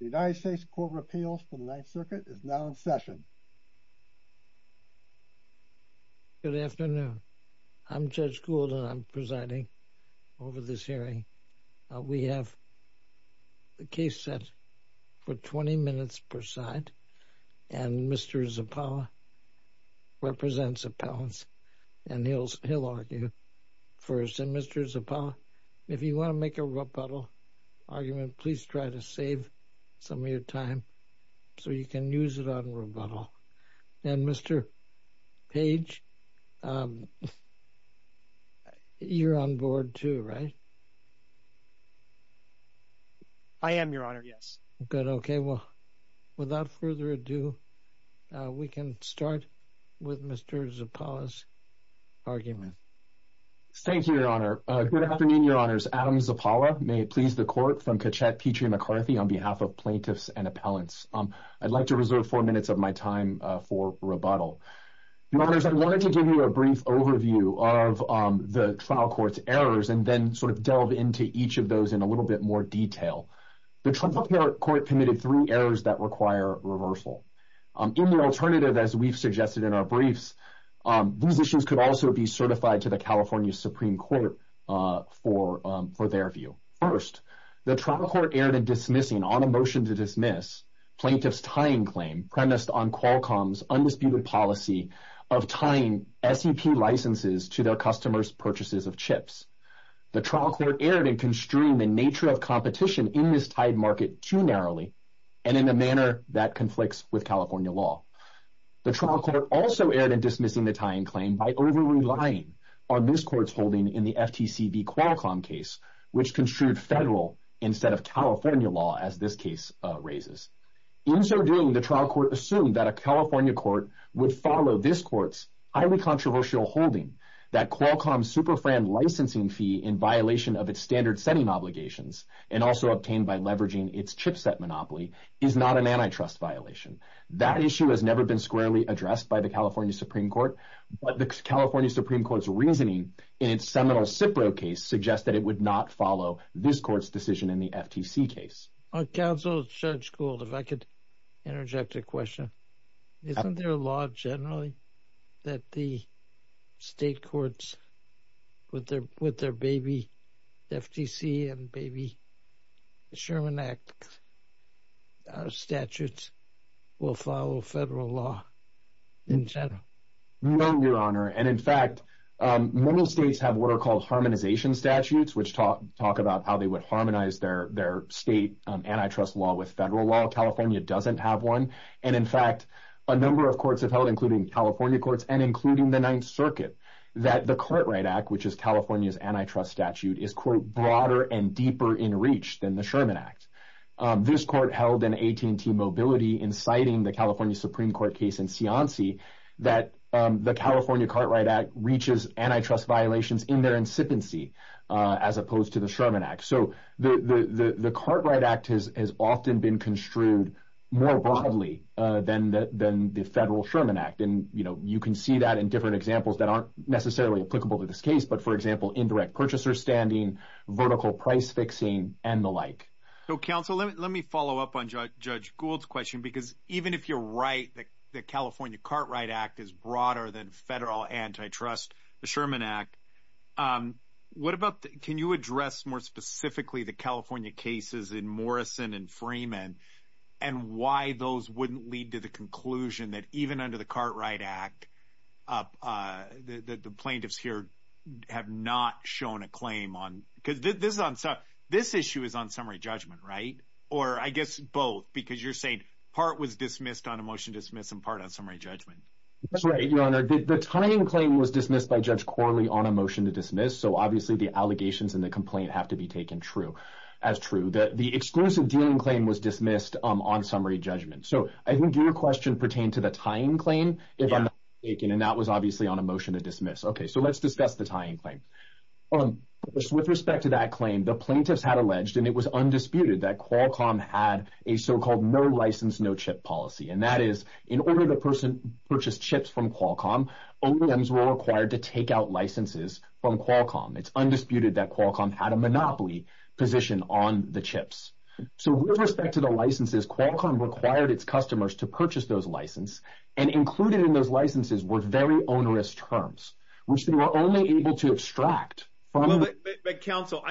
The United States Court of Appeals for the Ninth Circuit is now in session. Good afternoon. I'm Judge Gould and I'm presiding over this hearing. We have the case set for 20 minutes per side and Mr. Zappala represents appellants and he'll argue first. And Mr. Zappala, if you want to make a rebuttal argument, please try to save some of your time so you can use it on rebuttal. And Mr. Page, you're on board too, right? I am, Your Honor, yes. Good. Okay. Well, without further ado, we can start with Mr. Zappala's argument. Thank you, Your Honor. Good afternoon, Your Honors. Adam Zappala, may it please the Court, from Cachette, Petrie, McCarthy, on behalf of plaintiffs and appellants. I'd like to reserve four minutes of my time for rebuttal. Your Honors, I wanted to give you a brief overview of the trial court's errors and then sort of delve into each of those in a little bit more detail. The trial court committed three errors that require reversal. In the alternative, as we've suggested in our briefs, these issues could also be certified to the California Supreme Court for their view. First, the trial court erred in dismissing on a motion to dismiss plaintiff's tying claim premised on Qualcomm's undisputed policy of tying SEP licenses to their customers' purchases of chips. The trial court erred in construing the nature of competition in this tied market too narrowly and in a manner that conflicts with California law. The trial court also erred in dismissing the tying claim by over-relying on this court's holding in the FTC v. Qualcomm case, which construed federal instead of California law, as this case raises. In so doing, the trial court assumed that a California court would follow this court's highly controversial holding that Qualcomm's SuperFran licensing fee in violation of its standard-setting obligations and also obtained by leveraging its chipset monopoly is not an antitrust violation. That issue has never been squarely addressed by the California Supreme Court, but the California Supreme Court's reasoning in its Seminole-Cipro case suggests that it would not follow this court's decision in the FTC case. Counsel, Judge Gould, if I could interject a question. Isn't there a law generally that the state courts with their baby FTC and baby Sherman Act statutes will follow federal law in general? No, Your Honor. And in fact, many states have what are called harmonization statutes, which talk about how they would harmonize their state antitrust law with federal law. California doesn't have one. And in fact, a number of courts have held, including California courts and including the Ninth Circuit, that the Cartwright Act, which is California's antitrust statute, is, quote, broader and deeper in reach than the Sherman Act. This court held in AT&T Mobility, inciting the California Supreme Court case in Cianci, that the California Cartwright Act reaches antitrust violations in their incipiency as opposed to the Sherman Act. So the Cartwright Act has often been construed more broadly than the federal Sherman Act. And, you know, you can see that in different examples that aren't necessarily applicable to this case, but, for example, indirect purchaser standing, vertical price fixing, and the like. So, counsel, let me follow up on Judge Gould's question, because even if you're right that the California Cartwright Act is broader than federal antitrust, the Sherman Act, what about can you address more specifically the California cases in Morrison and Freeman and why those wouldn't lead to the conclusion that even under the Cartwright Act, the plaintiffs here have not shown a claim on... Because this issue is on summary judgment, right? Or, I guess, both, because you're saying part was dismissed on a motion to dismiss and part on summary judgment. That's right, Your Honor. The tying claim was dismissed by Judge Corley on a motion to dismiss, so obviously the allegations and the complaint have to be taken as true. The exclusive dealing claim was dismissed on summary judgment. So I think your question pertained to the tying claim. And that was obviously on a motion to dismiss. Okay, so let's discuss the tying claim. With respect to that claim, the plaintiffs had alleged, and it was undisputed, that Qualcomm had a so-called no-license, no-chip policy, and that is in order the person purchased chips from Qualcomm, O&Ms were required to take out licenses from Qualcomm. It's undisputed that Qualcomm had a monopoly position on the chips. So with respect to the licenses, Qualcomm required its customers to purchase those licenses and include it in those licenses were very onerous terms, which they were only able to extract from the… But, counsel,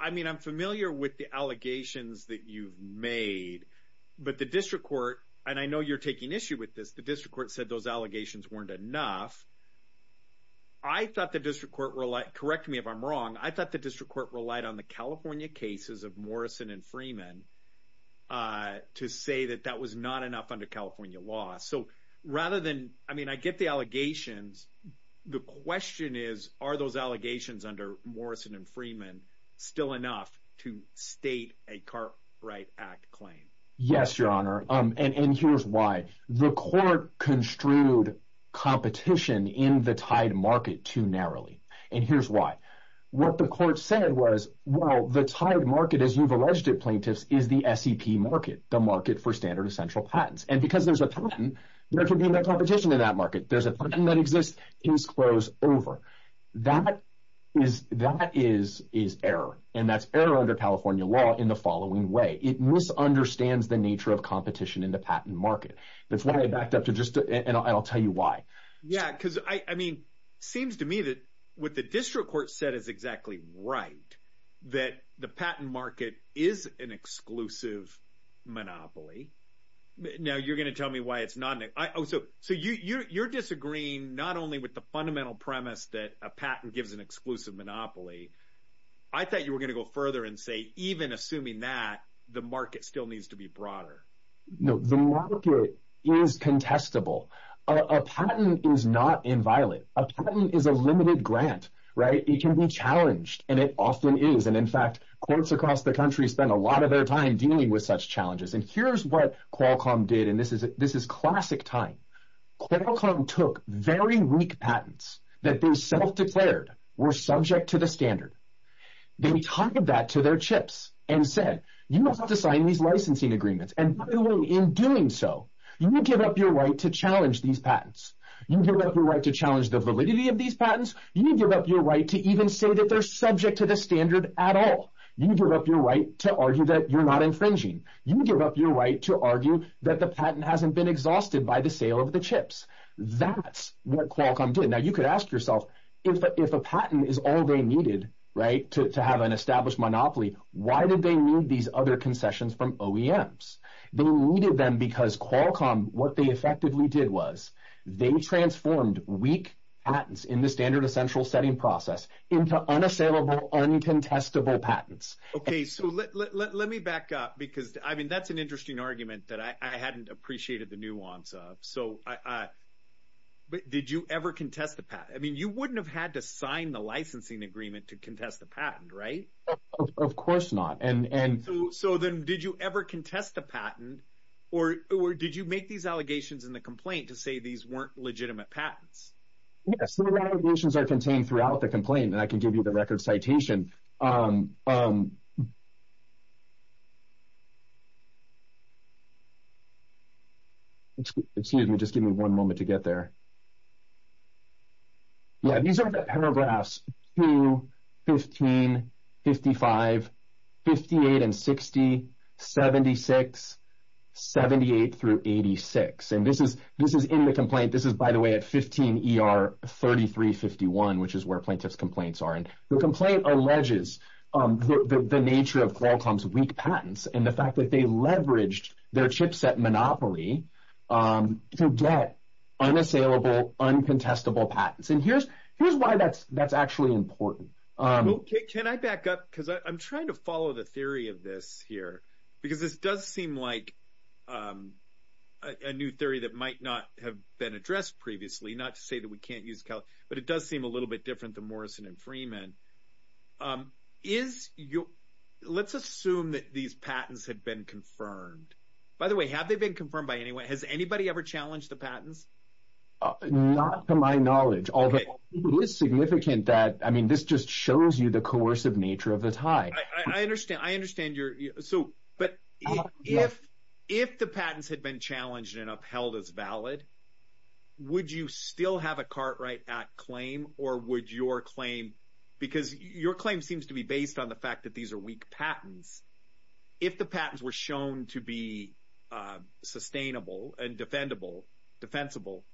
I mean I'm familiar with the allegations that you've made, but the district court, and I know you're taking issue with this, the district court said those allegations weren't enough. I thought the district court relied, correct me if I'm wrong, I thought the district court relied on the California cases of Morrison and Freeman to say that that was not enough under California law. So rather than, I mean I get the allegations, the question is are those allegations under Morrison and Freeman still enough to state a Cartwright Act claim? Yes, Your Honor, and here's why. The court construed competition in the tied market too narrowly, and here's why. What the court said was, well, the tied market, as you've alleged it, plaintiffs, is the SEP market, the market for standard and central patents. And because there's a patent, there can be no competition in that market. There's a patent that exists, it's closed over. That is error, and that's error under California law in the following way. It misunderstands the nature of competition in the patent market. That's why I backed up to just, and I'll tell you why. Yeah, because, I mean, it seems to me that what the district court said is exactly right, that the patent market is an exclusive monopoly. Now you're going to tell me why it's not. Oh, so you're disagreeing not only with the fundamental premise that a patent gives an exclusive monopoly. I thought you were going to go further and say even assuming that, the market still needs to be broader. No, the market is contestable. A patent is not inviolate. A patent is a limited grant, right? It can be challenged, and it often is. And, in fact, courts across the country spend a lot of their time dealing with such challenges. And here's what Qualcomm did, and this is classic time. Qualcomm took very weak patents that they self-declared were subject to the standard. They tied that to their chips and said, you don't have to sign these licensing agreements. And by the way, in doing so, you give up your right to challenge these patents. You give up your right to challenge the validity of these patents. You give up your right to even say that they're subject to the standard at all. You give up your right to argue that you're not infringing. You give up your right to argue that the patent hasn't been exhausted by the sale of the chips. That's what Qualcomm did. Now you could ask yourself, if a patent is all they needed, right, to have an established monopoly, why did they need these other concessions from OEMs? They needed them because Qualcomm, what they effectively did was they transformed weak patents in the standard essential setting process into unassailable, uncontestable patents. Okay, so let me back up because, I mean, that's an interesting argument that I hadn't appreciated the nuance of. So did you ever contest a patent? I mean, you wouldn't have had to sign the licensing agreement to contest a patent, right? Of course not. So then did you ever contest a patent, or did you make these allegations in the complaint to say these weren't legitimate patents? Yes, the allegations are contained throughout the complaint, and I can give you the record citation. Excuse me, just give me one moment to get there. Yeah, these are the paragraphs 2, 15, 55, 58, and 60, 76, 78 through 86. And this is in the complaint. This is, by the way, at 15 ER 3351, which is where plaintiff's complaints are. And the complaint alleges the nature of Qualcomm's weak patents and the fact that they leveraged their chipset monopoly to get unassailable, uncontestable patents. And here's why that's actually important. Okay, can I back up because I'm trying to follow the theory of this here because this does seem like a new theory that might not have been addressed previously, not to say that we can't use Cal, but it does seem a little bit different than Morrison and Freeman. Let's assume that these patents had been confirmed. By the way, have they been confirmed by anyone? Has anybody ever challenged the patents? Not to my knowledge, although it is significant that, I mean, this just shows you the coercive nature of the tie. I understand. But if the patents had been challenged and upheld as valid, would you still have a Cartwright Act claim or would your claim, because your claim seems to be based on the fact that these are weak patents, if the patents were shown to be sustainable and defendable, defensible,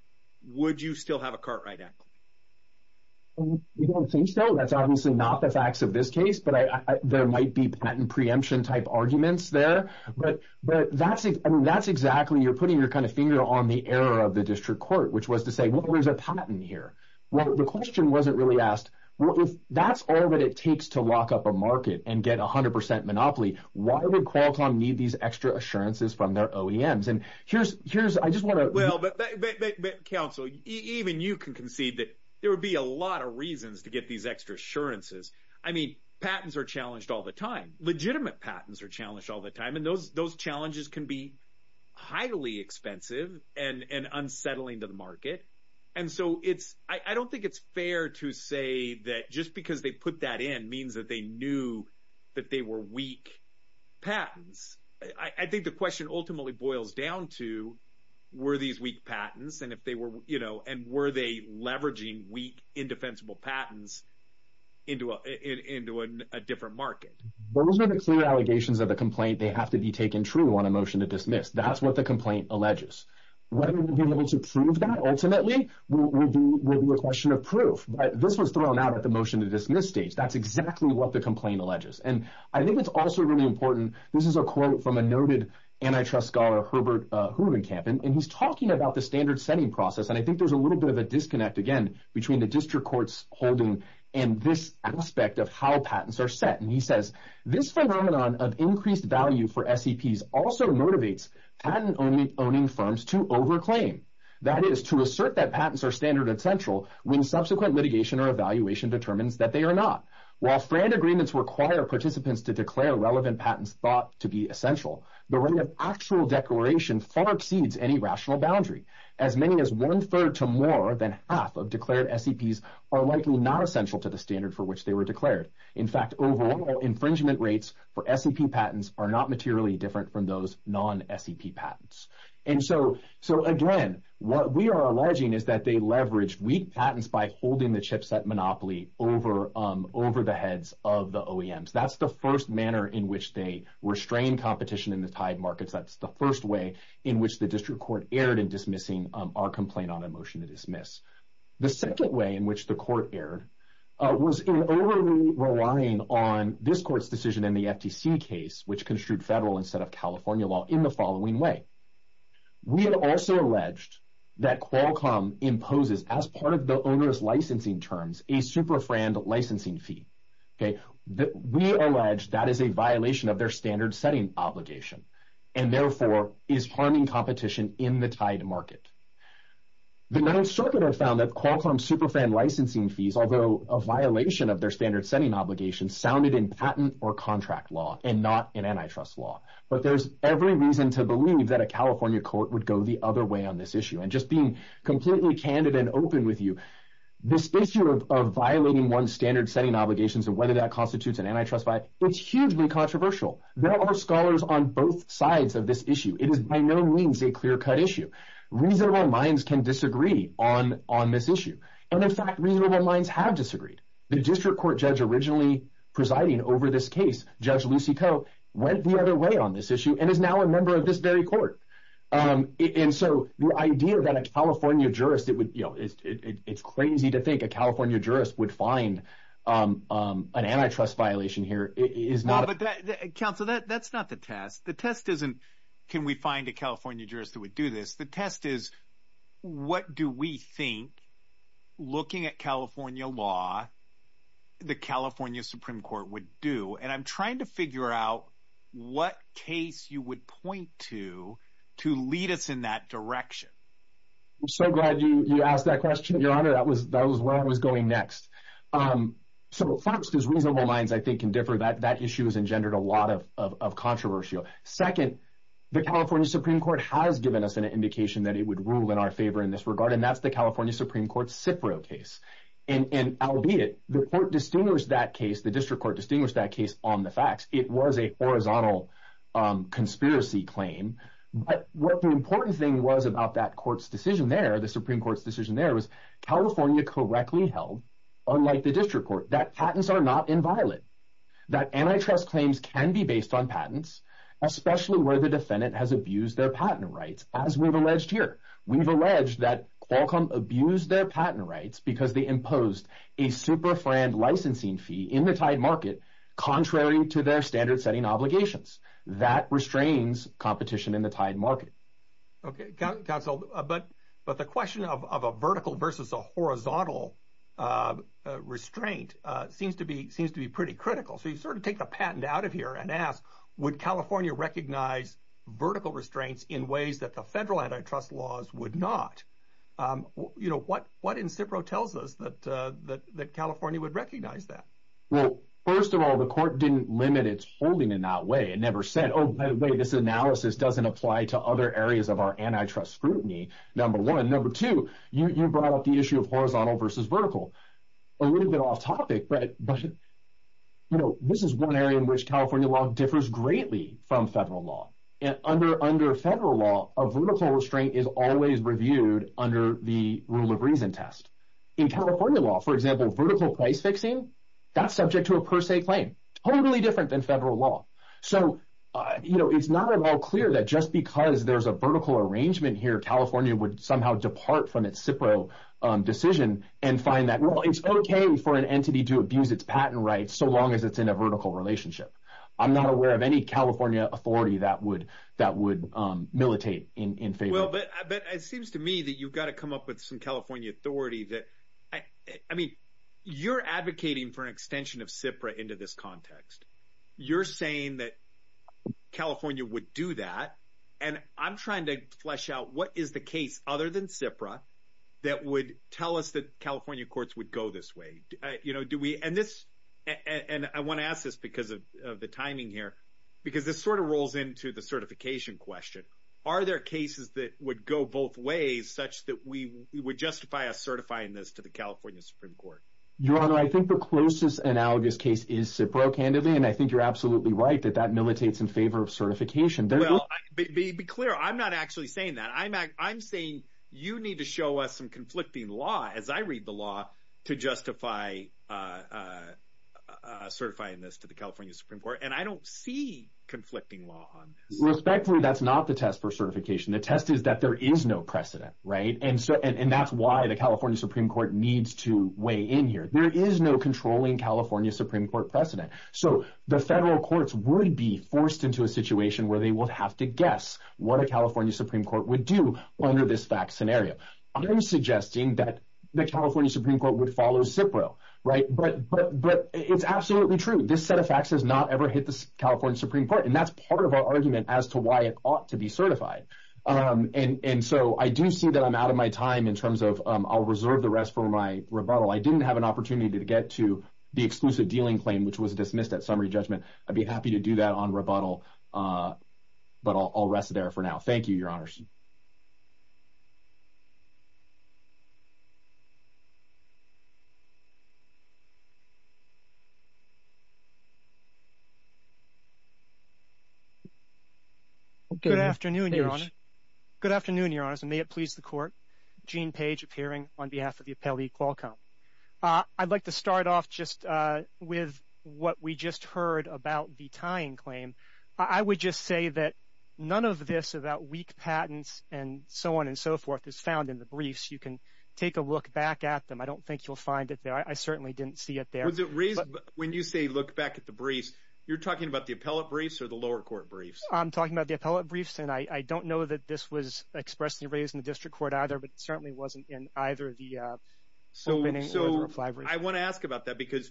would you still have a Cartwright Act claim? I don't think so. That's obviously not the facts of this case, but there might be patent preemption type arguments there. But that's exactly, you're putting your finger on the error of the district court, which was to say, well, there's a patent here. Well, the question wasn't really asked, well, if that's all that it takes to lock up a market and get 100% monopoly, why would Qualcomm need these extra assurances from their OEMs? And here's, I just want to. Well, but counsel, even you can concede that there would be a lot of reasons to get these extra assurances. I mean, patents are challenged all the time. Legitimate patents are challenged all the time. And those challenges can be highly expensive and unsettling to the market. And so I don't think it's fair to say that just because they put that in means that they knew that they were weak patents. I think the question ultimately boils down to, were these weak patents? And were they leveraging weak, indefensible patents into a different market? Those are the clear allegations of the complaint. They have to be taken true on a motion to dismiss. That's what the complaint alleges. Whether we'll be able to prove that ultimately will be a question of proof. But this was thrown out at the motion to dismiss stage. That's exactly what the complaint alleges. And I think it's also really important, this is a quote from a noted antitrust scholar, Herbert Hugenkamp, and he's talking about the standard setting process, and I think there's a little bit of a disconnect, again, between the district court's holding and this aspect of how patents are set. And he says, this phenomenon of increased value for SEPs also motivates patent-owning firms to over-claim. That is, to assert that patents are standard essential when subsequent litigation or evaluation determines that they are not. While friend agreements require participants to declare relevant patents thought to be essential, the right of actual declaration far exceeds any rational boundary. As many as one-third to more than half of declared SEPs are likely not essential to the standard for which they were declared. In fact, overall infringement rates for SEP patents are not materially different from those non-SEP patents. And so, again, what we are alleging is that they leveraged weak patents by holding the chipset monopoly over the heads of the OEMs. That's the first manner in which they restrain competition in the tied markets. That's the first way in which the district court erred in dismissing our complaint on a motion to dismiss. The second way in which the court erred was in overly relying on this court's decision in the FTC case, which construed federal instead of California law, in the following way. We have also alleged that Qualcomm imposes, as part of the onerous licensing terms, a super-franned licensing fee. We allege that is a violation of their standard-setting obligation and, therefore, is harming competition in the tied market. The Ninth Circuit have found that Qualcomm's super-franned licensing fees, although a violation of their standard-setting obligation, sounded in patent or contract law and not in antitrust law. But there's every reason to believe that a California court would go the other way on this issue. And just being completely candid and open with you, this issue of violating one's standard-setting obligations and whether that constitutes an antitrust violation, it's hugely controversial. There are scholars on both sides of this issue. It is by no means a clear-cut issue. Reasonable minds can disagree on this issue. And, in fact, reasonable minds have disagreed. The district court judge originally presiding over this case, Judge Lucy Coe, went the other way on this issue and is now a member of this very court. And so the idea that a California jurist would – it's crazy to think a California jurist would find an antitrust violation here. Counsel, that's not the test. The test isn't, can we find a California jurist that would do this? The test is, what do we think, looking at California law, the California Supreme Court would do? And I'm trying to figure out what case you would point to to lead us in that direction. I'm so glad you asked that question, Your Honor. That was where I was going next. So, first, as reasonable minds, I think, can differ, that issue has engendered a lot of controversy. Second, the California Supreme Court has given us an indication that it would rule in our favor in this regard, and that's the California Supreme Court Cipro case. And, albeit, the court distinguished that case, the district court distinguished that case on the facts. It was a horizontal conspiracy claim. But what the important thing was about that court's decision there, the Supreme Court's decision there, was California correctly held, unlike the district court, that patents are not inviolate, that antitrust claims can be based on patents, especially where the defendant has abused their patent rights, as we've alleged here. We've alleged that Qualcomm abused their patent rights because they imposed a SuperFran licensing fee in the tied market, contrary to their standard-setting obligations. That restrains competition in the tied market. Okay. Counsel, but the question of a vertical versus a horizontal restraint seems to be pretty critical. So you sort of take the patent out of here and ask, would California recognize vertical restraints in ways that the federal antitrust laws would not? You know, what in Cipro tells us that California would recognize that? Well, first of all, the court didn't limit its holding in that way. It never said, oh, by the way, this analysis doesn't apply to other areas of our antitrust scrutiny, number one. Number two, you brought up the issue of horizontal versus vertical. A little bit off topic, but, you know, this is one area in which California law differs greatly from federal law. Under federal law, a vertical restraint is always reviewed under the rule of reason test. In California law, for example, vertical price fixing, that's subject to a per se claim. Totally different than federal law. So, you know, it's not at all clear that just because there's a vertical arrangement here, California would somehow depart from its Cipro decision and find that, well, it's okay for an entity to abuse its patent rights so long as it's in a vertical relationship. I'm not aware of any California authority that would militate in favor. Well, but it seems to me that you've got to come up with some California authority that, I mean, you're advocating for an antitrust context. You're saying that California would do that. And I'm trying to flesh out what is the case other than Cipro that would tell us that California courts would go this way. You know, do we, and this, and I want to ask this because of the timing here, because this sort of rolls into the certification question. Are there cases that would go both ways such that we would justify us certifying this to the California Supreme Court? Your Honor, I think the closest analogous case is Cipro, candidly. And I think you're absolutely right that that militates in favor of certification. Well, be clear. I'm not actually saying that. I'm saying you need to show us some conflicting law, as I read the law, to justify certifying this to the California Supreme Court. And I don't see conflicting law on this. Respectfully, that's not the test for certification. The test is that there is no precedent, right? And that's why the California Supreme Court needs to weigh in here. There is no controlling California Supreme Court precedent. So the federal courts would be forced into a situation where they would have to guess what a California Supreme Court would do under this fact scenario. I'm suggesting that the California Supreme Court would follow Cipro, right? But it's absolutely true. This set of facts has not ever hit the California Supreme Court. And that's part of our argument as to why it ought to be certified. And so I do see that I'm out of my time in terms of I'll reserve the rest for my rebuttal. I didn't have an opportunity to get to the exclusive dealing claim, which was dismissed at summary judgment. I'd be happy to do that on rebuttal. But I'll rest there for now. Thank you, Your Honors. Thank you, Your Honors. Good afternoon, Your Honors. Good afternoon, Your Honors, and may it please the Court. Gene Page, appearing on behalf of the appellee, Qualcomm. I'd like to start off just with what we just heard about the tying claim. I would just say that none of this about weak patents and so on and so forth is found in the briefs. You can take a look back at them. I don't think you'll find it there. I certainly didn't see it there. When you say look back at the briefs, you're talking about the appellate briefs or the lower court briefs? I'm talking about the appellate briefs. And I don't know that this was expressly raised in the district court either, but it certainly wasn't in either of the opening or the refineries. I want to ask about that because,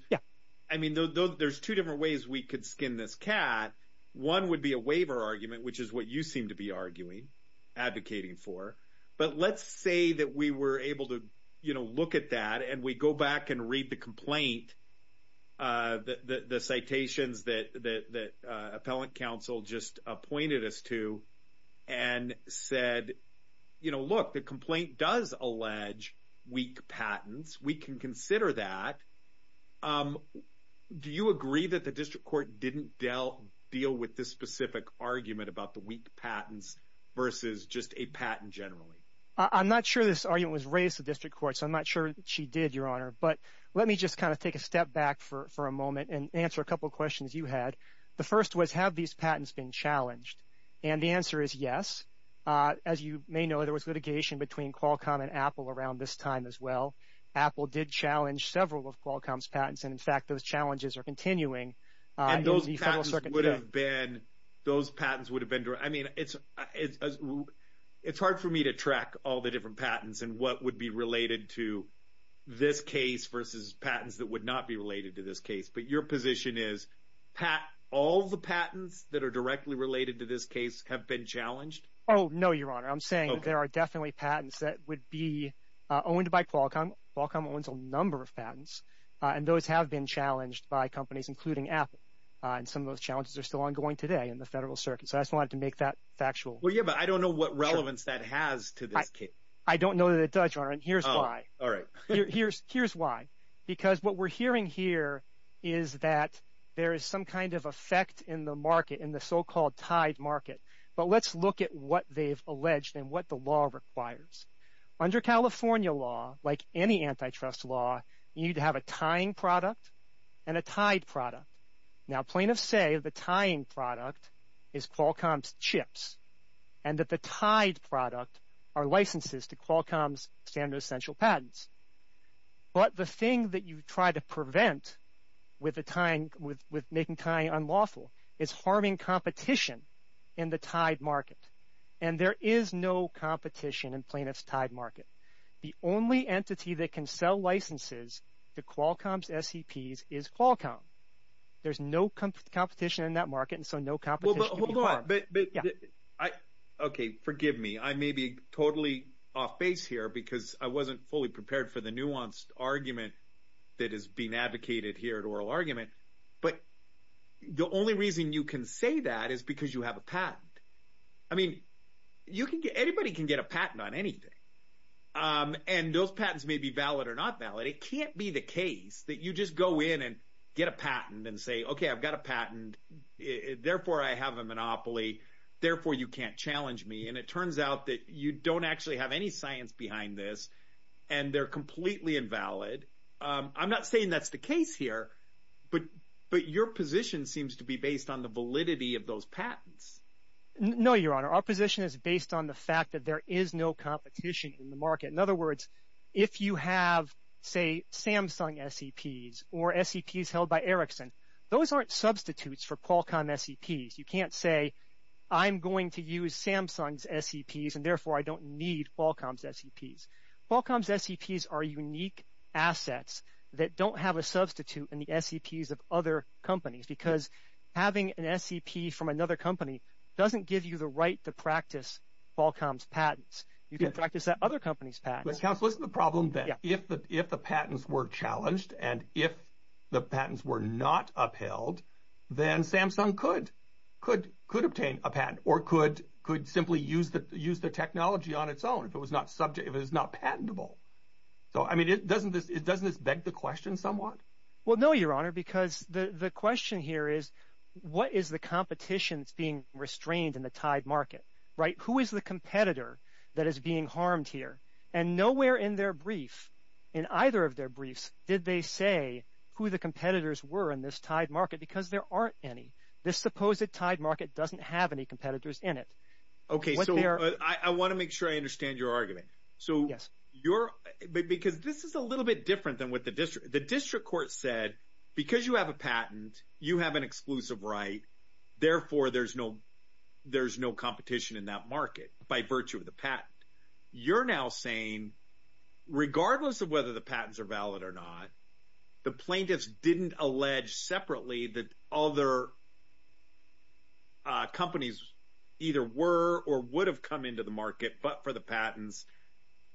I mean, there's two different ways we could skin this cat. One would be a waiver argument, which is what you seem to be arguing, advocating for. But let's say that we were able to, you know, look at that and we go back and read the complaint, the citations that appellate counsel just appointed us to and said, you know, look, the complaint does allege weak patents. We can consider that. Do you agree that the district court didn't deal with this specific argument about the weak patents versus just a patent generally? I'm not sure this argument was raised in the district court, so I'm not sure she did, Your Honor. But let me just kind of take a step back for a moment and answer a couple of questions you had. The first was have these patents been challenged? And the answer is yes. As you may know, there was litigation between Qualcomm and Apple around this time as well. Apple did challenge several of Qualcomm's patents, and, in fact, those challenges are continuing. And those patents would have been, I mean, it's hard for me to track all the different patents and what would be related to this case versus patents that would not be related to this case. But your position is all the patents that are directly related to this case have been challenged? Oh, no, Your Honor. I'm saying there are definitely patents that would be owned by Qualcomm. Qualcomm owns a number of patents, and those have been challenged by companies, including Apple. And some of those challenges are still ongoing today in the federal circuit. So I just wanted to make that factual. Well, yeah, but I don't know what relevance that has to this case. I don't know that it does, Your Honor, and here's why. All right. Here's why, because what we're hearing here is that there is some kind of effect in the market, in the so-called tied market. But let's look at what they've alleged and what the law requires. Under California law, like any antitrust law, you need to have a tying product and a tied product. Now, plaintiffs say the tying product is Qualcomm's chips and that the tied product are licenses to Qualcomm's standard essential patents. But the thing that you try to prevent with making tying unlawful is harming competition in the tied market. And there is no competition in plaintiffs' tied market. The only entity that can sell licenses to Qualcomm's SEPs is Qualcomm. There's no competition in that market, and so no competition can be harmed. Okay, forgive me. I may be totally off base here because I wasn't fully prepared for the nuanced argument that is being advocated here at Oral Argument. But the only reason you can say that is because you have a patent. I mean, anybody can get a patent on anything, and those patents may be valid or not valid. It can't be the case that you just go in and get a patent and say, okay, I've got a patent. Therefore, I have a monopoly. Therefore, you can't challenge me. And it turns out that you don't actually have any science behind this, and they're completely invalid. I'm not saying that's the case here, but your position seems to be based on the validity of those patents. No, Your Honor. Our position is based on the fact that there is no competition in the market. In other words, if you have, say, Samsung SEPs or SEPs held by Ericsson, those aren't substitutes for Qualcomm SEPs. You can't say I'm going to use Samsung's SEPs, and therefore I don't need Qualcomm's SEPs. Qualcomm's SEPs are unique assets that don't have a substitute in the SEPs of other companies because having an SEP from another company doesn't give you the right to practice Qualcomm's patents. You can practice that other company's patents. But, counsel, isn't the problem that if the patents were challenged and if the patents were not upheld, then Samsung could obtain a patent or could simply use the technology on its own if it was not patentable. So, I mean, doesn't this beg the question somewhat? Well, no, Your Honor, because the question here is what is the competition that's being restrained in the tied market, right? Who is the competitor that is being harmed here? And nowhere in their brief, in either of their briefs, did they say who the competitors were in this tied market because there aren't any. This supposed tied market doesn't have any competitors in it. Okay, so I want to make sure I understand your argument. So, because this is a little bit different than what the district court said. Because you have a patent, you have an exclusive right. Therefore, there's no competition in that market by virtue of the patent. You're now saying regardless of whether the patents are valid or not, the plaintiffs didn't allege separately that other companies either were or would have come into the market, but for the patents,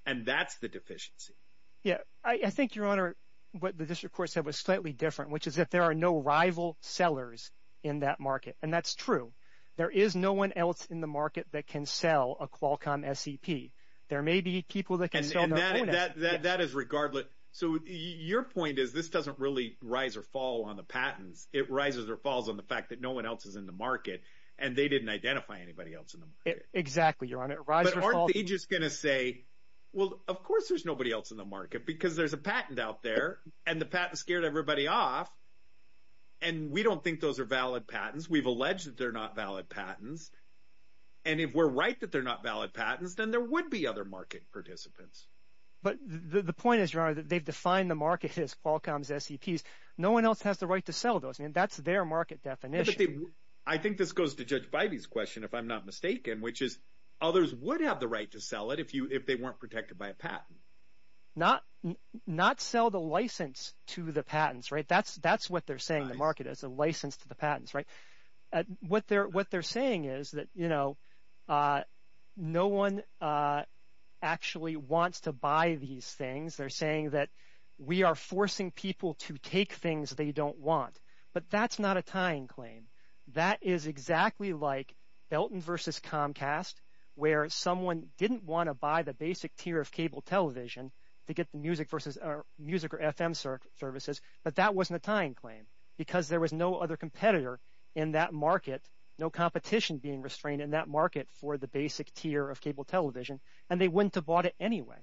and that's the deficiency. Yeah, I think, Your Honor, what the district court said was slightly different, which is that there are no rival sellers in that market, and that's true. There is no one else in the market that can sell a Qualcomm SEP. There may be people that can sell their own SEP. And that is regardless. So, your point is this doesn't really rise or fall on the patents. It rises or falls on the fact that no one else is in the market, and they didn't identify anybody else in the market. Exactly, Your Honor. But aren't they just going to say, well, of course there's nobody else in the market because there's a patent out there, and the patent scared everybody off, and we don't think those are valid patents. We've alleged that they're not valid patents, and if we're right that they're not valid patents, then there would be other market participants. But the point is, Your Honor, that they've defined the market as Qualcomm's SEPs. No one else has the right to sell those. I mean, that's their market definition. I think this goes to Judge Bidey's question, if I'm not mistaken, which is others would have the right to sell it if they weren't protected by a patent. Not sell the license to the patents, right? That's what they're saying the market is, the license to the patents, right? What they're saying is that no one actually wants to buy these things. They're saying that we are forcing people to take things they don't want, but that's not a tying claim. That is exactly like Belton versus Comcast, where someone didn't want to buy the basic tier of cable television to get the music or FM services, but that wasn't a tying claim because there was no other competitor in that market, no competition being restrained in that market for the basic tier of cable television, and they wouldn't have bought it anyway.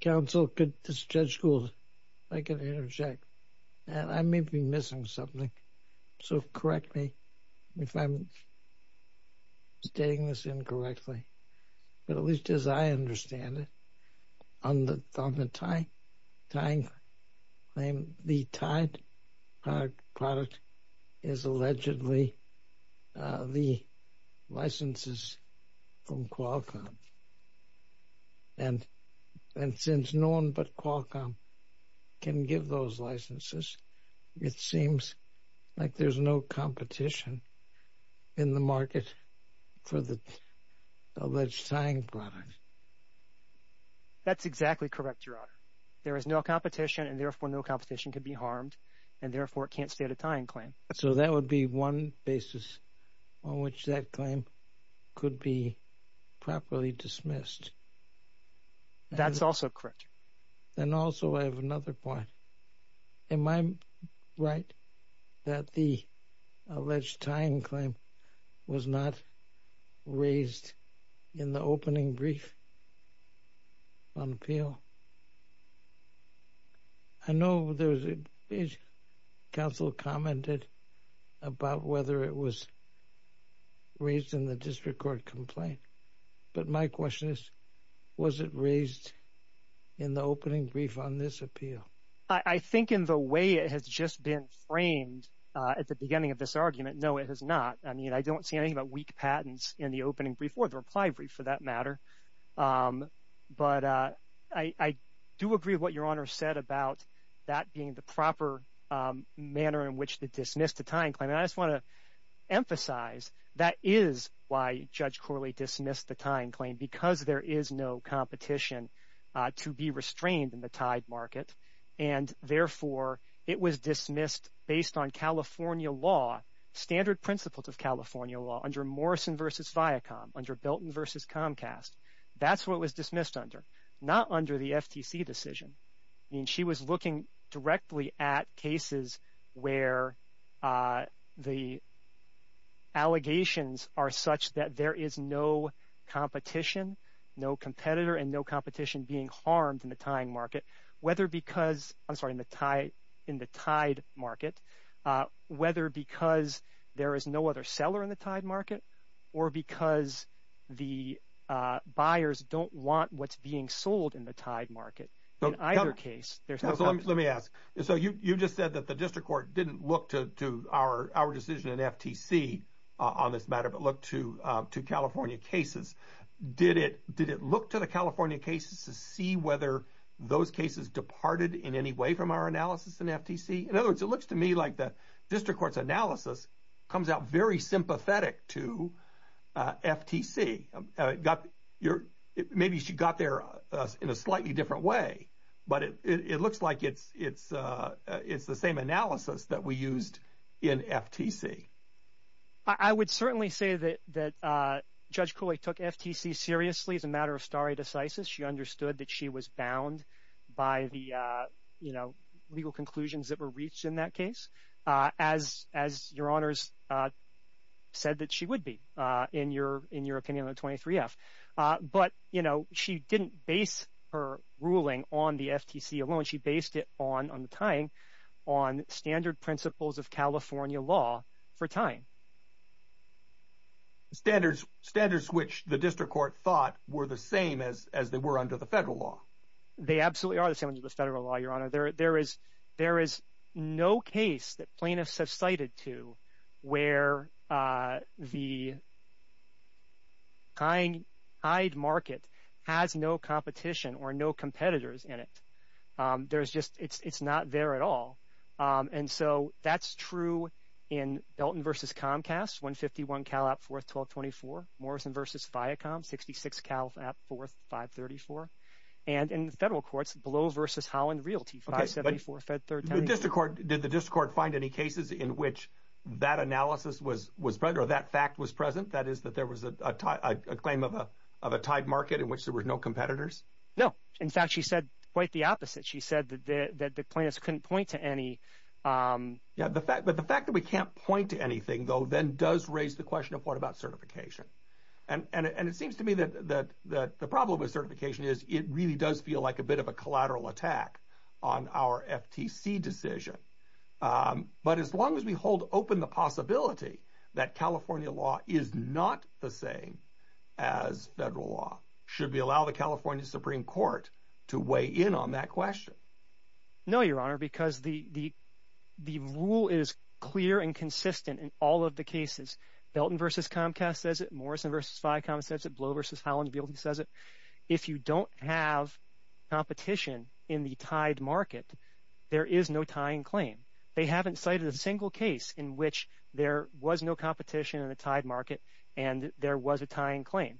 Counsel, this is Judge Gould, if I can interject. I may be missing something, so correct me if I'm stating this incorrectly. But at least as I understand it, on the tying claim, the tied product is allegedly the licenses from Qualcomm, and since no one but Qualcomm can give those licenses, it seems like there's no competition in the market for the alleged tying product. That's exactly correct, Your Honor. There is no competition, and therefore no competition can be harmed, and therefore it can't state a tying claim. So that would be one basis on which that claim could be properly dismissed. That's also correct. Then also I have another point. Am I right that the alleged tying claim was not raised in the opening brief on appeal? I know there was a page counsel commented about whether it was raised in the district court complaint, but my question is, was it raised in the opening brief on this appeal? I think in the way it has just been framed at the beginning of this argument, no, it has not. I mean, I don't see anything about weak patents in the opening brief or the reply brief for that matter. But I do agree with what Your Honor said about that being the proper manner in which to dismiss the tying claim. And I just want to emphasize that is why Judge Corley dismissed the tying claim, because there is no competition to be restrained in the tied market, and therefore it was dismissed based on California law, standard principles of California law, under Morrison v. Viacom, under Belton v. Comcast. That's what it was dismissed under, not under the FTC decision. I mean, she was looking directly at cases where the allegations are such that there is no competition, no competitor and no competition being harmed in the tying market, whether because, I'm sorry, in the tied market, whether because there is no other seller in the tied market or because the buyers don't want what's being sold in the tied market. In either case, there's no competition. Let me ask. So you just said that the district court didn't look to our decision in FTC on this matter, but looked to California cases. Did it look to the California cases to see whether those cases departed in any way from our analysis in FTC? In other words, it looks to me like the district court's analysis comes out very sympathetic to FTC. Maybe she got there in a slightly different way, but it looks like it's the same analysis that we used in FTC. I would certainly say that Judge Cooley took FTC seriously as a matter of stare decisis. She understood that she was bound by the legal conclusions that were reached in that case, as Your Honors said that she would be, in your opinion on 23-F. But she didn't base her ruling on the FTC alone. She based it on the tying, on standard principles of California law for tying. Standards which the district court thought were the same as they were under the federal law. They absolutely are the same under the federal law, Your Honor. There is no case that plaintiffs have cited to where the tied market has no competition or no competitors in it. There's just, it's not there at all. And so that's true in Belton v. Comcast, 151 Cal. App. 4, 1224. Morrison v. Viacom, 66 Cal. App. 4, 534. And in the federal courts, Below v. Howland Realty, 574 Fed 310. Did the district court find any cases in which that analysis was present or that fact was present, that is that there was a claim of a tied market in which there were no competitors? No. In fact, she said quite the opposite. She said that the plaintiffs couldn't point to any. Yeah, but the fact that we can't point to anything, though, then does raise the question of what about certification. And it seems to me that the problem with certification is it really does feel like a bit of a collateral attack on our FTC decision. But as long as we hold open the possibility that California law is not the same as federal law, should we allow the California Supreme Court to weigh in on that question? No, Your Honor, because the rule is clear and consistent in all of the cases. Belton v. Comcast says it, Morrison v. Viacom says it, Below v. Howland Realty says it. If you don't have competition in the tied market, there is no tying claim. They haven't cited a single case in which there was no competition in the tied market and there was a tying claim.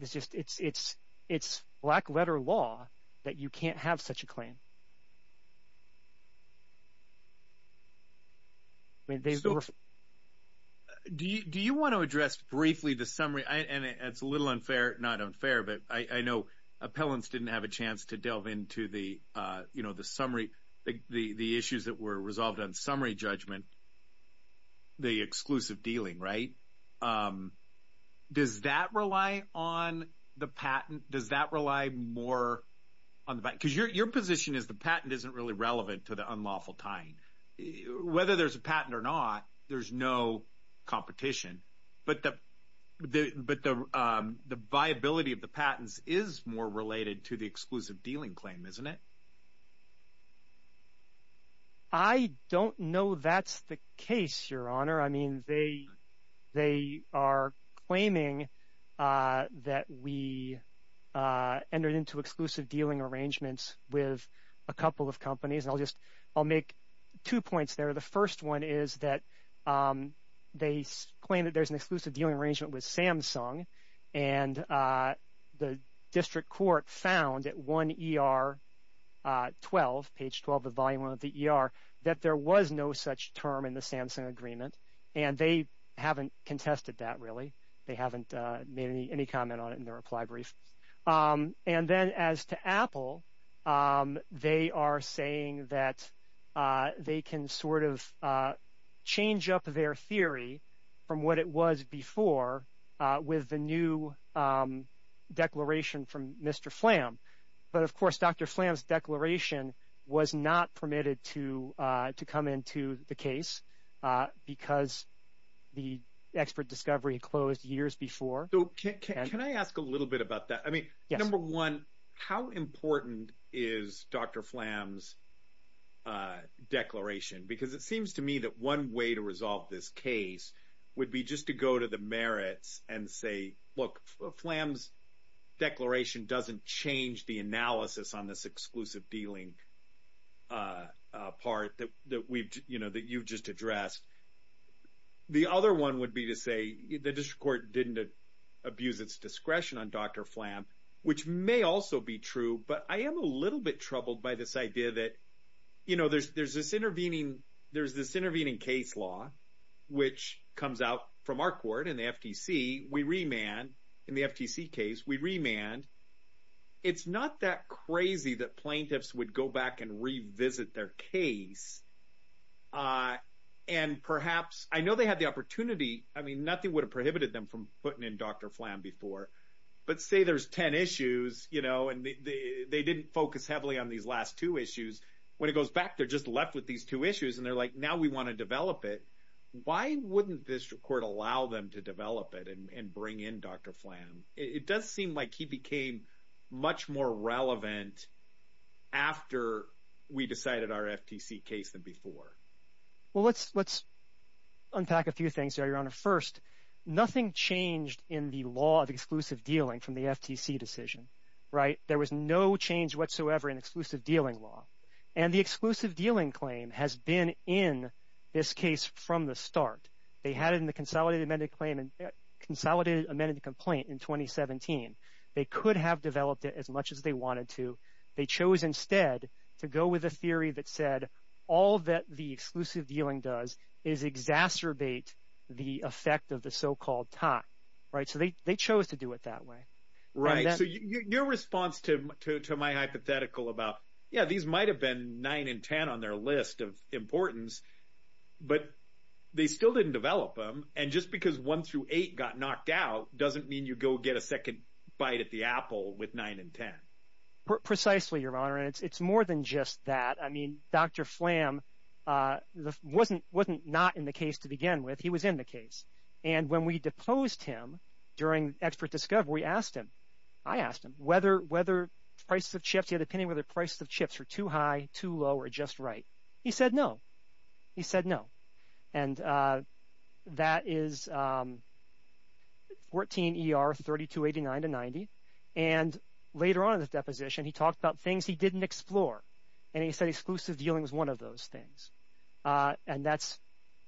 It's black-letter law that you can't have such a claim. Do you want to address briefly the summary? And it's a little unfair, not unfair, but I know appellants didn't have a chance to delve into the summary, the issues that were resolved on summary judgment, the exclusive dealing, right? Does that rely on the patent? Does that rely more on the patent? Because your position is the patent isn't really relevant to the unlawful tying. Whether there's a patent or not, there's no competition. But the viability of the patents is more related to the exclusive dealing claim, isn't it? I don't know that's the case, Your Honor. I mean, they are claiming that we entered into exclusive dealing arrangements with a couple of companies. I'll make two points there. The first one is that they claim that there's an exclusive dealing arrangement with Samsung and the district court found at 1 ER 12, page 12 of volume 1 of the ER, that there was no such term in the Samsung agreement and they haven't contested that really. They haven't made any comment on it in their reply brief. And then as to Apple, they are saying that they can sort of change up their theory from what it was before with the new declaration from Mr. Flamm. But, of course, Dr. Flamm's declaration was not permitted to come into the case because the expert discovery closed years before. Can I ask a little bit about that? I mean, number one, how important is Dr. Flamm's declaration? Because it seems to me that one way to resolve this case would be just to go to the merits and say, look, Flamm's declaration doesn't change the analysis on this exclusive dealing part that you've just addressed. The other one would be to say the district court didn't abuse its discretion on Dr. Flamm, which may also be true, but I am a little bit troubled by this idea that, you know, there's this intervening case law which comes out from our court in the FTC. We remand in the FTC case. We remand. It's not that crazy that plaintiffs would go back and revisit their case. And perhaps I know they had the opportunity. I mean, nothing would have prohibited them from putting in Dr. Flamm before. But say there's 10 issues, you know, and they didn't focus heavily on these last two issues. When it goes back, they're just left with these two issues, and they're like, now we want to develop it. Why wouldn't this court allow them to develop it and bring in Dr. Flamm? It does seem like he became much more relevant after we decided our FTC case than before. Well, let's unpack a few things there, Your Honor. First, nothing changed in the law of exclusive dealing from the FTC decision, right? There was no change whatsoever in exclusive dealing law. And the exclusive dealing claim has been in this case from the start. They had it in the consolidated amended complaint in 2017. They could have developed it as much as they wanted to. They chose instead to go with a theory that said all that the exclusive dealing does is exacerbate the effect of the so-called tie, right? So they chose to do it that way. Right. So your response to my hypothetical about, yeah, these might have been 9 and 10 on their list of importance, but they still didn't develop them. And just because 1 through 8 got knocked out doesn't mean you go get a second bite at the apple with 9 and 10. Precisely, Your Honor. It's more than just that. I mean, Dr. Flamm wasn't not in the case to begin with. He was in the case. And when we deposed him during expert discovery, we asked him, I asked him, whether prices of chips, he had an opinion whether prices of chips were too high, too low, or just right. He said no. He said no. And that is 14 ER 3289 to 90. And later on in the deposition, he talked about things he didn't explore. And he said exclusive dealing was one of those things. And that's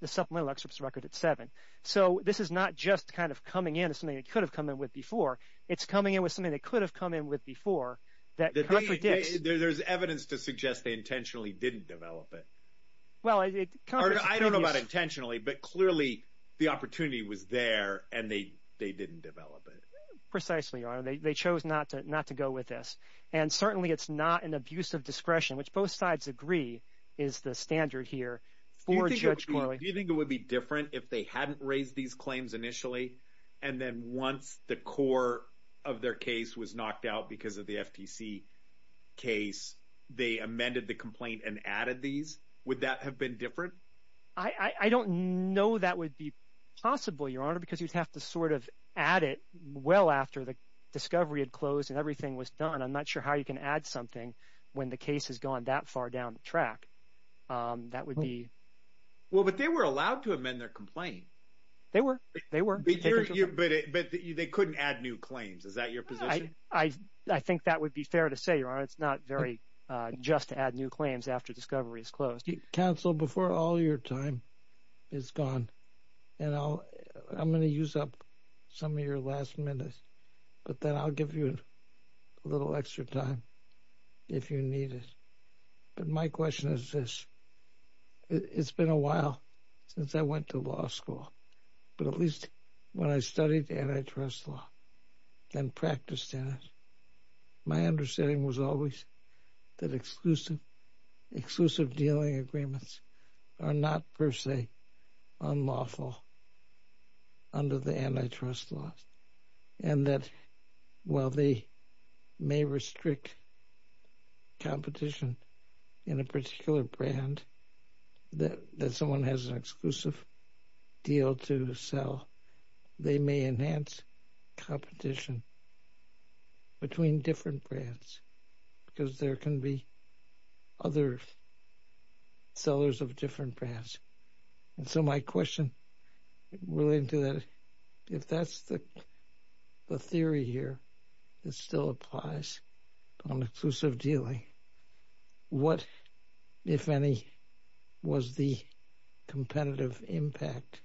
the supplemental excerpts record at 7. So this is not just kind of coming in as something they could have come in with before. It's coming in with something they could have come in with before that contradicts. There's evidence to suggest they intentionally didn't develop it. I don't know about intentionally, but clearly the opportunity was there, and they didn't develop it. Precisely, Your Honor. They chose not to go with this. And certainly it's not an abuse of discretion, which both sides agree is the standard here for Judge Corley. Do you think it would be different if they hadn't raised these claims initially, and then once the core of their case was knocked out because of the FTC case, they amended the complaint and added these? Would that have been different? I don't know that would be possible, Your Honor, because you'd have to sort of add it well after the discovery had closed and everything was done. I'm not sure how you can add something when the case has gone that far down the track. That would be— Well, but they were allowed to amend their complaint. They were. They were. But they couldn't add new claims. Is that your position? I think that would be fair to say, Your Honor. It's not very just to add new claims after discovery is closed. Counsel, before all your time is gone, I'm going to use up some of your last minutes, but then I'll give you a little extra time if you need it. But my question is this. It's been a while since I went to law school, but at least when I studied antitrust law and practiced in it, my understanding was always that exclusive dealing agreements are not per se unlawful under the antitrust laws. And that while they may restrict competition in a particular brand that someone has an exclusive deal to sell, they may enhance competition between different brands because there can be other sellers of different brands. And so my question related to that, if that's the theory here that still applies on exclusive dealing, what, if any, was the competitive impact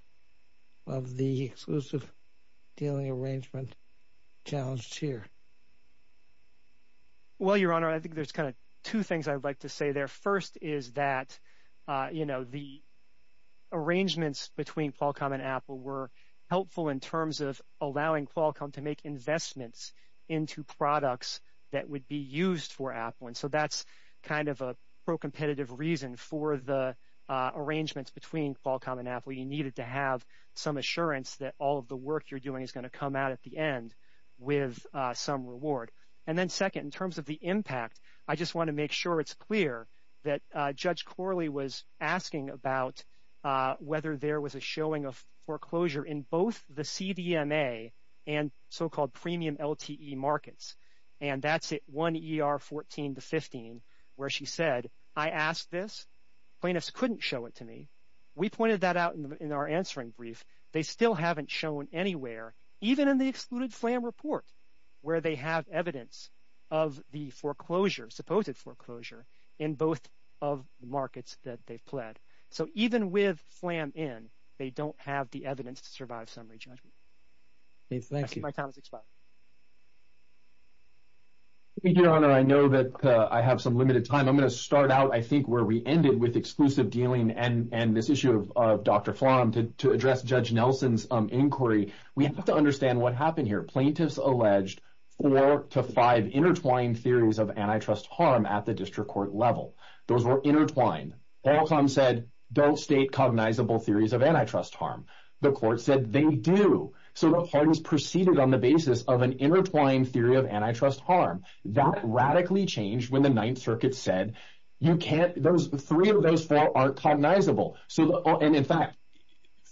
of the exclusive dealing arrangement challenged here? Well, Your Honor, I think there's kind of two things I'd like to say there. The first is that the arrangements between Qualcomm and Apple were helpful in terms of allowing Qualcomm to make investments into products that would be used for Apple. And so that's kind of a pro-competitive reason for the arrangements between Qualcomm and Apple. You needed to have some assurance that all of the work you're doing is going to come out at the end with some reward. And then second, in terms of the impact, I just want to make sure it's clear that Judge Corley was asking about whether there was a showing of foreclosure in both the CDMA and so-called premium LTE markets. And that's at 1 ER 14 to 15 where she said, I asked this. Plaintiffs couldn't show it to me. We pointed that out in our answering brief. They still haven't shown anywhere, even in the excluded flam report, where they have evidence of the foreclosure, supposed foreclosure, in both of the markets that they've pled. So even with flam in, they don't have the evidence to survive summary judgment. Thank you. Your Honor, I know that I have some limited time. I'm going to start out, I think, where we ended with exclusive dealing and this issue of Dr. Flom to address Judge Nelson's inquiry. We have to understand what happened here. Plaintiffs alleged four to five intertwined theories of antitrust harm at the district court level. Those were intertwined. Alcom said don't state cognizable theories of antitrust harm. The court said they do. So the pardons proceeded on the basis of an intertwined theory of antitrust harm. That radically changed when the Ninth Circuit said you can't, three of those four aren't cognizable, and in fact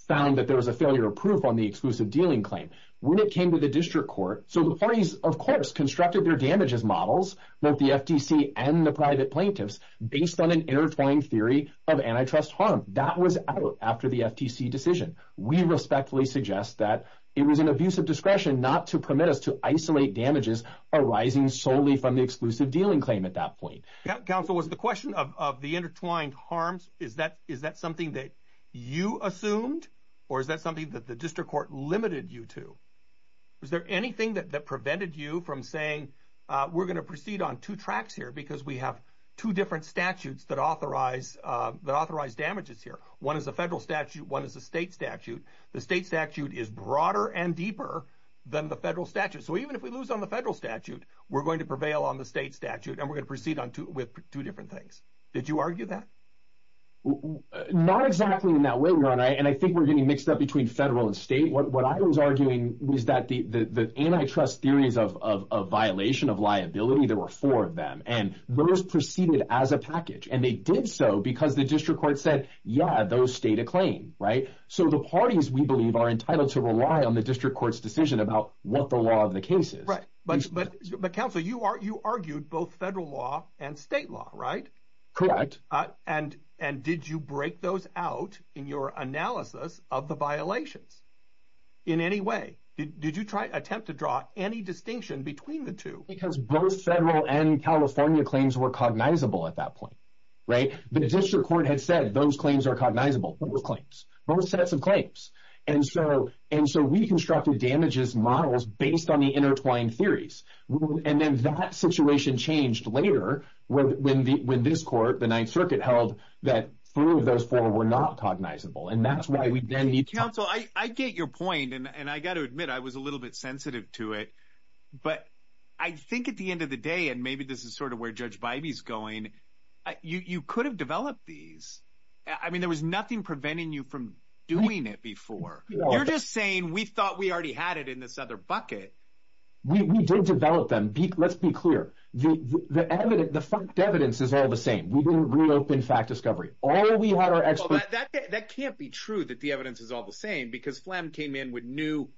found that there was a failure of proof on the exclusive dealing claim. When it came to the district court, so the parties, of course, constructed their damages models, both the FTC and the private plaintiffs, based on an intertwined theory of antitrust harm. That was out after the FTC decision. We respectfully suggest that it was an abuse of discretion not to permit us to isolate damages arising solely from the exclusive dealing claim at that point. Counsel, was the question of the intertwined harms, is that something that you assumed or is that something that the district court limited you to? Was there anything that prevented you from saying we're going to proceed on two tracks here because we have two different statutes that authorize damages here. One is a federal statute, one is a state statute. The state statute is broader and deeper than the federal statute. So even if we lose on the federal statute, we're going to prevail on the state statute and we're going to proceed with two different things. Did you argue that? Not exactly in that way. And I think we're getting mixed up between federal and state. What I was arguing was that the antitrust theories of violation of liability, there were four of them, and those proceeded as a package. And they did so because the district court said, yeah, those state a claim. So the parties, we believe, are entitled to rely on the district court's decision about what the law of the case is. But, Counsel, you argued both federal law and state law, right? Correct. And did you break those out in your analysis of the violations in any way? Did you attempt to draw any distinction between the two? Because both federal and California claims were cognizable at that point, right? The district court had said those claims are cognizable. Those claims. Those sets of claims. And so we constructed damages models based on the intertwined theories. And then that situation changed later when this court, the Ninth Circuit, held that three of those four were not cognizable. And that's why we then need to. Counsel, I get your point. And I got to admit, I was a little bit sensitive to it. But I think at the end of the day, and maybe this is sort of where Judge Bybee is going, you could have developed these. I mean, there was nothing preventing you from doing it before. You're just saying we thought we already had it in this other bucket. We did develop them. Let's be clear. The fact evidence is all the same. We didn't reopen fact discovery. That can't be true that the evidence is all the same because Phlegm came in with new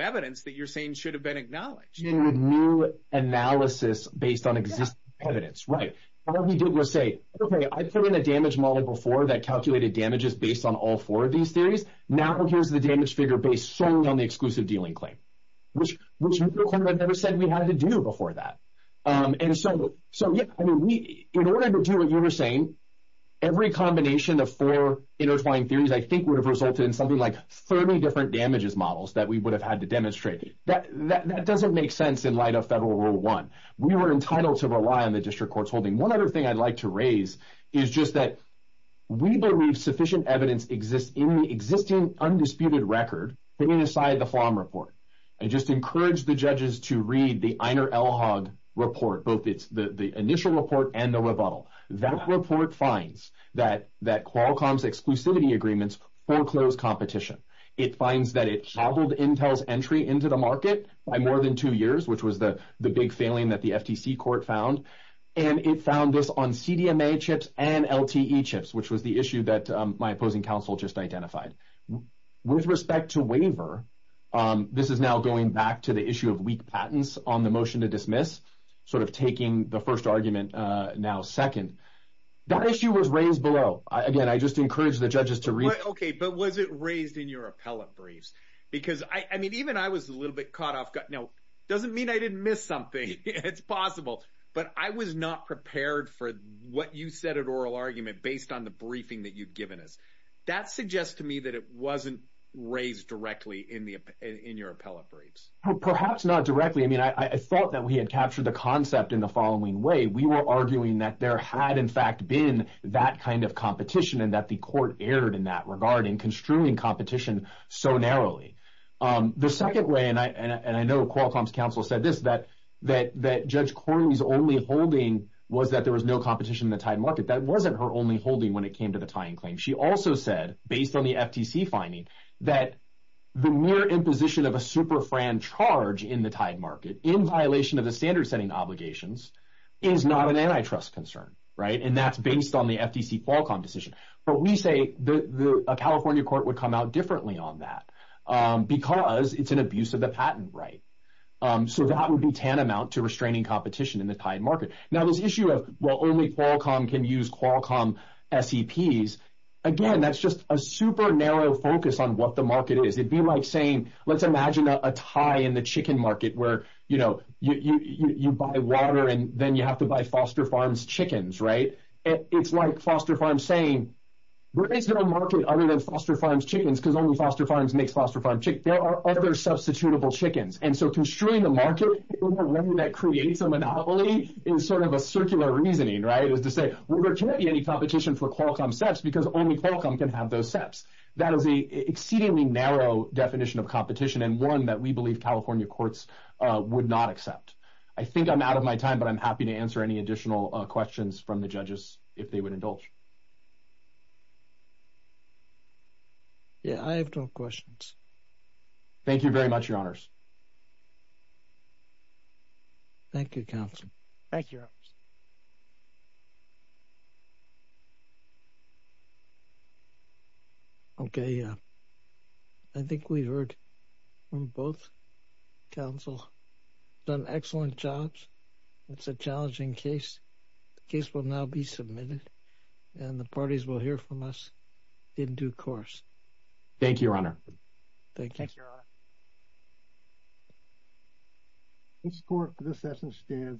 evidence that you're saying should have been acknowledged. New analysis based on existing evidence. All we did was say, okay, I put in a damage model before that calculated damages based on all four of these theories. Now here's the damage figure based solely on the exclusive dealing claim. Which we never said we had to do before that. And so, yeah, I mean, in order to do what you were saying, every combination of four intertwined theories I think would have resulted in something like 30 different damages models that we would have had to demonstrate. That doesn't make sense in light of Federal Rule 1. We were entitled to rely on the district court's holding. One other thing I'd like to raise is just that we believe sufficient evidence exists in the existing undisputed record putting aside the Phlegm report. I just encourage the judges to read the Einer Elhag report, both the initial report and the rebuttal. That report finds that Qualcomm's exclusivity agreements foreclosed competition. It finds that it cobbled Intel's entry into the market by more than two years, which was the big failing that the FTC court found. And it found this on CDMA chips and LTE chips, which was the issue that my opposing counsel just identified. With respect to waiver, this is now going back to the issue of weak patents on the motion to dismiss, sort of taking the first argument now second. That issue was raised below. Again, I just encourage the judges to read. Okay, but was it raised in your appellate briefs? Because, I mean, even I was a little bit caught off guard. Now, it doesn't mean I didn't miss something. It's possible. But I was not prepared for what you said at oral argument based on the briefing that you've given us. That suggests to me that it wasn't raised directly in your appellate briefs. Perhaps not directly. I mean, I thought that we had captured the concept in the following way. We were arguing that there had, in fact, been that kind of competition and that the court erred in that regard in construing competition so narrowly. The second way, and I know Qualcomm's counsel said this, that Judge Corley's only holding was that there was no competition in the tied market. That wasn't her only holding when it came to the tying claim. She also said, based on the FTC finding, that the mere imposition of a super-fran charge in the tied market in violation of the standard-setting obligations is not an antitrust concern, right? And that's based on the FTC Qualcomm decision. But we say a California court would come out differently on that because it's an abuse of the patent right. So that would be tantamount to restraining competition in the tied market. Now this issue of, well, only Qualcomm can use Qualcomm SEPs, again, that's just a super-narrow focus on what the market is. It'd be like saying, let's imagine a tie in the chicken market where, you know, you buy water and then you have to buy Foster Farms chickens, right? It's like Foster Farms saying, there is no market other than Foster Farms chickens because only Foster Farms makes Foster Farms chickens. There are other substitutable chickens. And so constraining the market in a way that creates a monopoly is sort of a circular reasoning, right, is to say, well, there can't be any competition for Qualcomm SEPs because only Qualcomm can have those SEPs. That is an exceedingly narrow definition of competition and one that we believe California courts would not accept. I think I'm out of my time, but I'm happy to answer any additional questions from the judges if they would indulge. Yeah, I have no questions. Thank you very much, Your Honors. Thank you, Counsel. Thank you, Your Honors. Okay, I think we heard from both counsel. Done excellent jobs. It's a challenging case. The case will now be submitted and the parties will hear from us in due course. Thank you, Your Honor. Thank you. Thank you, Your Honor.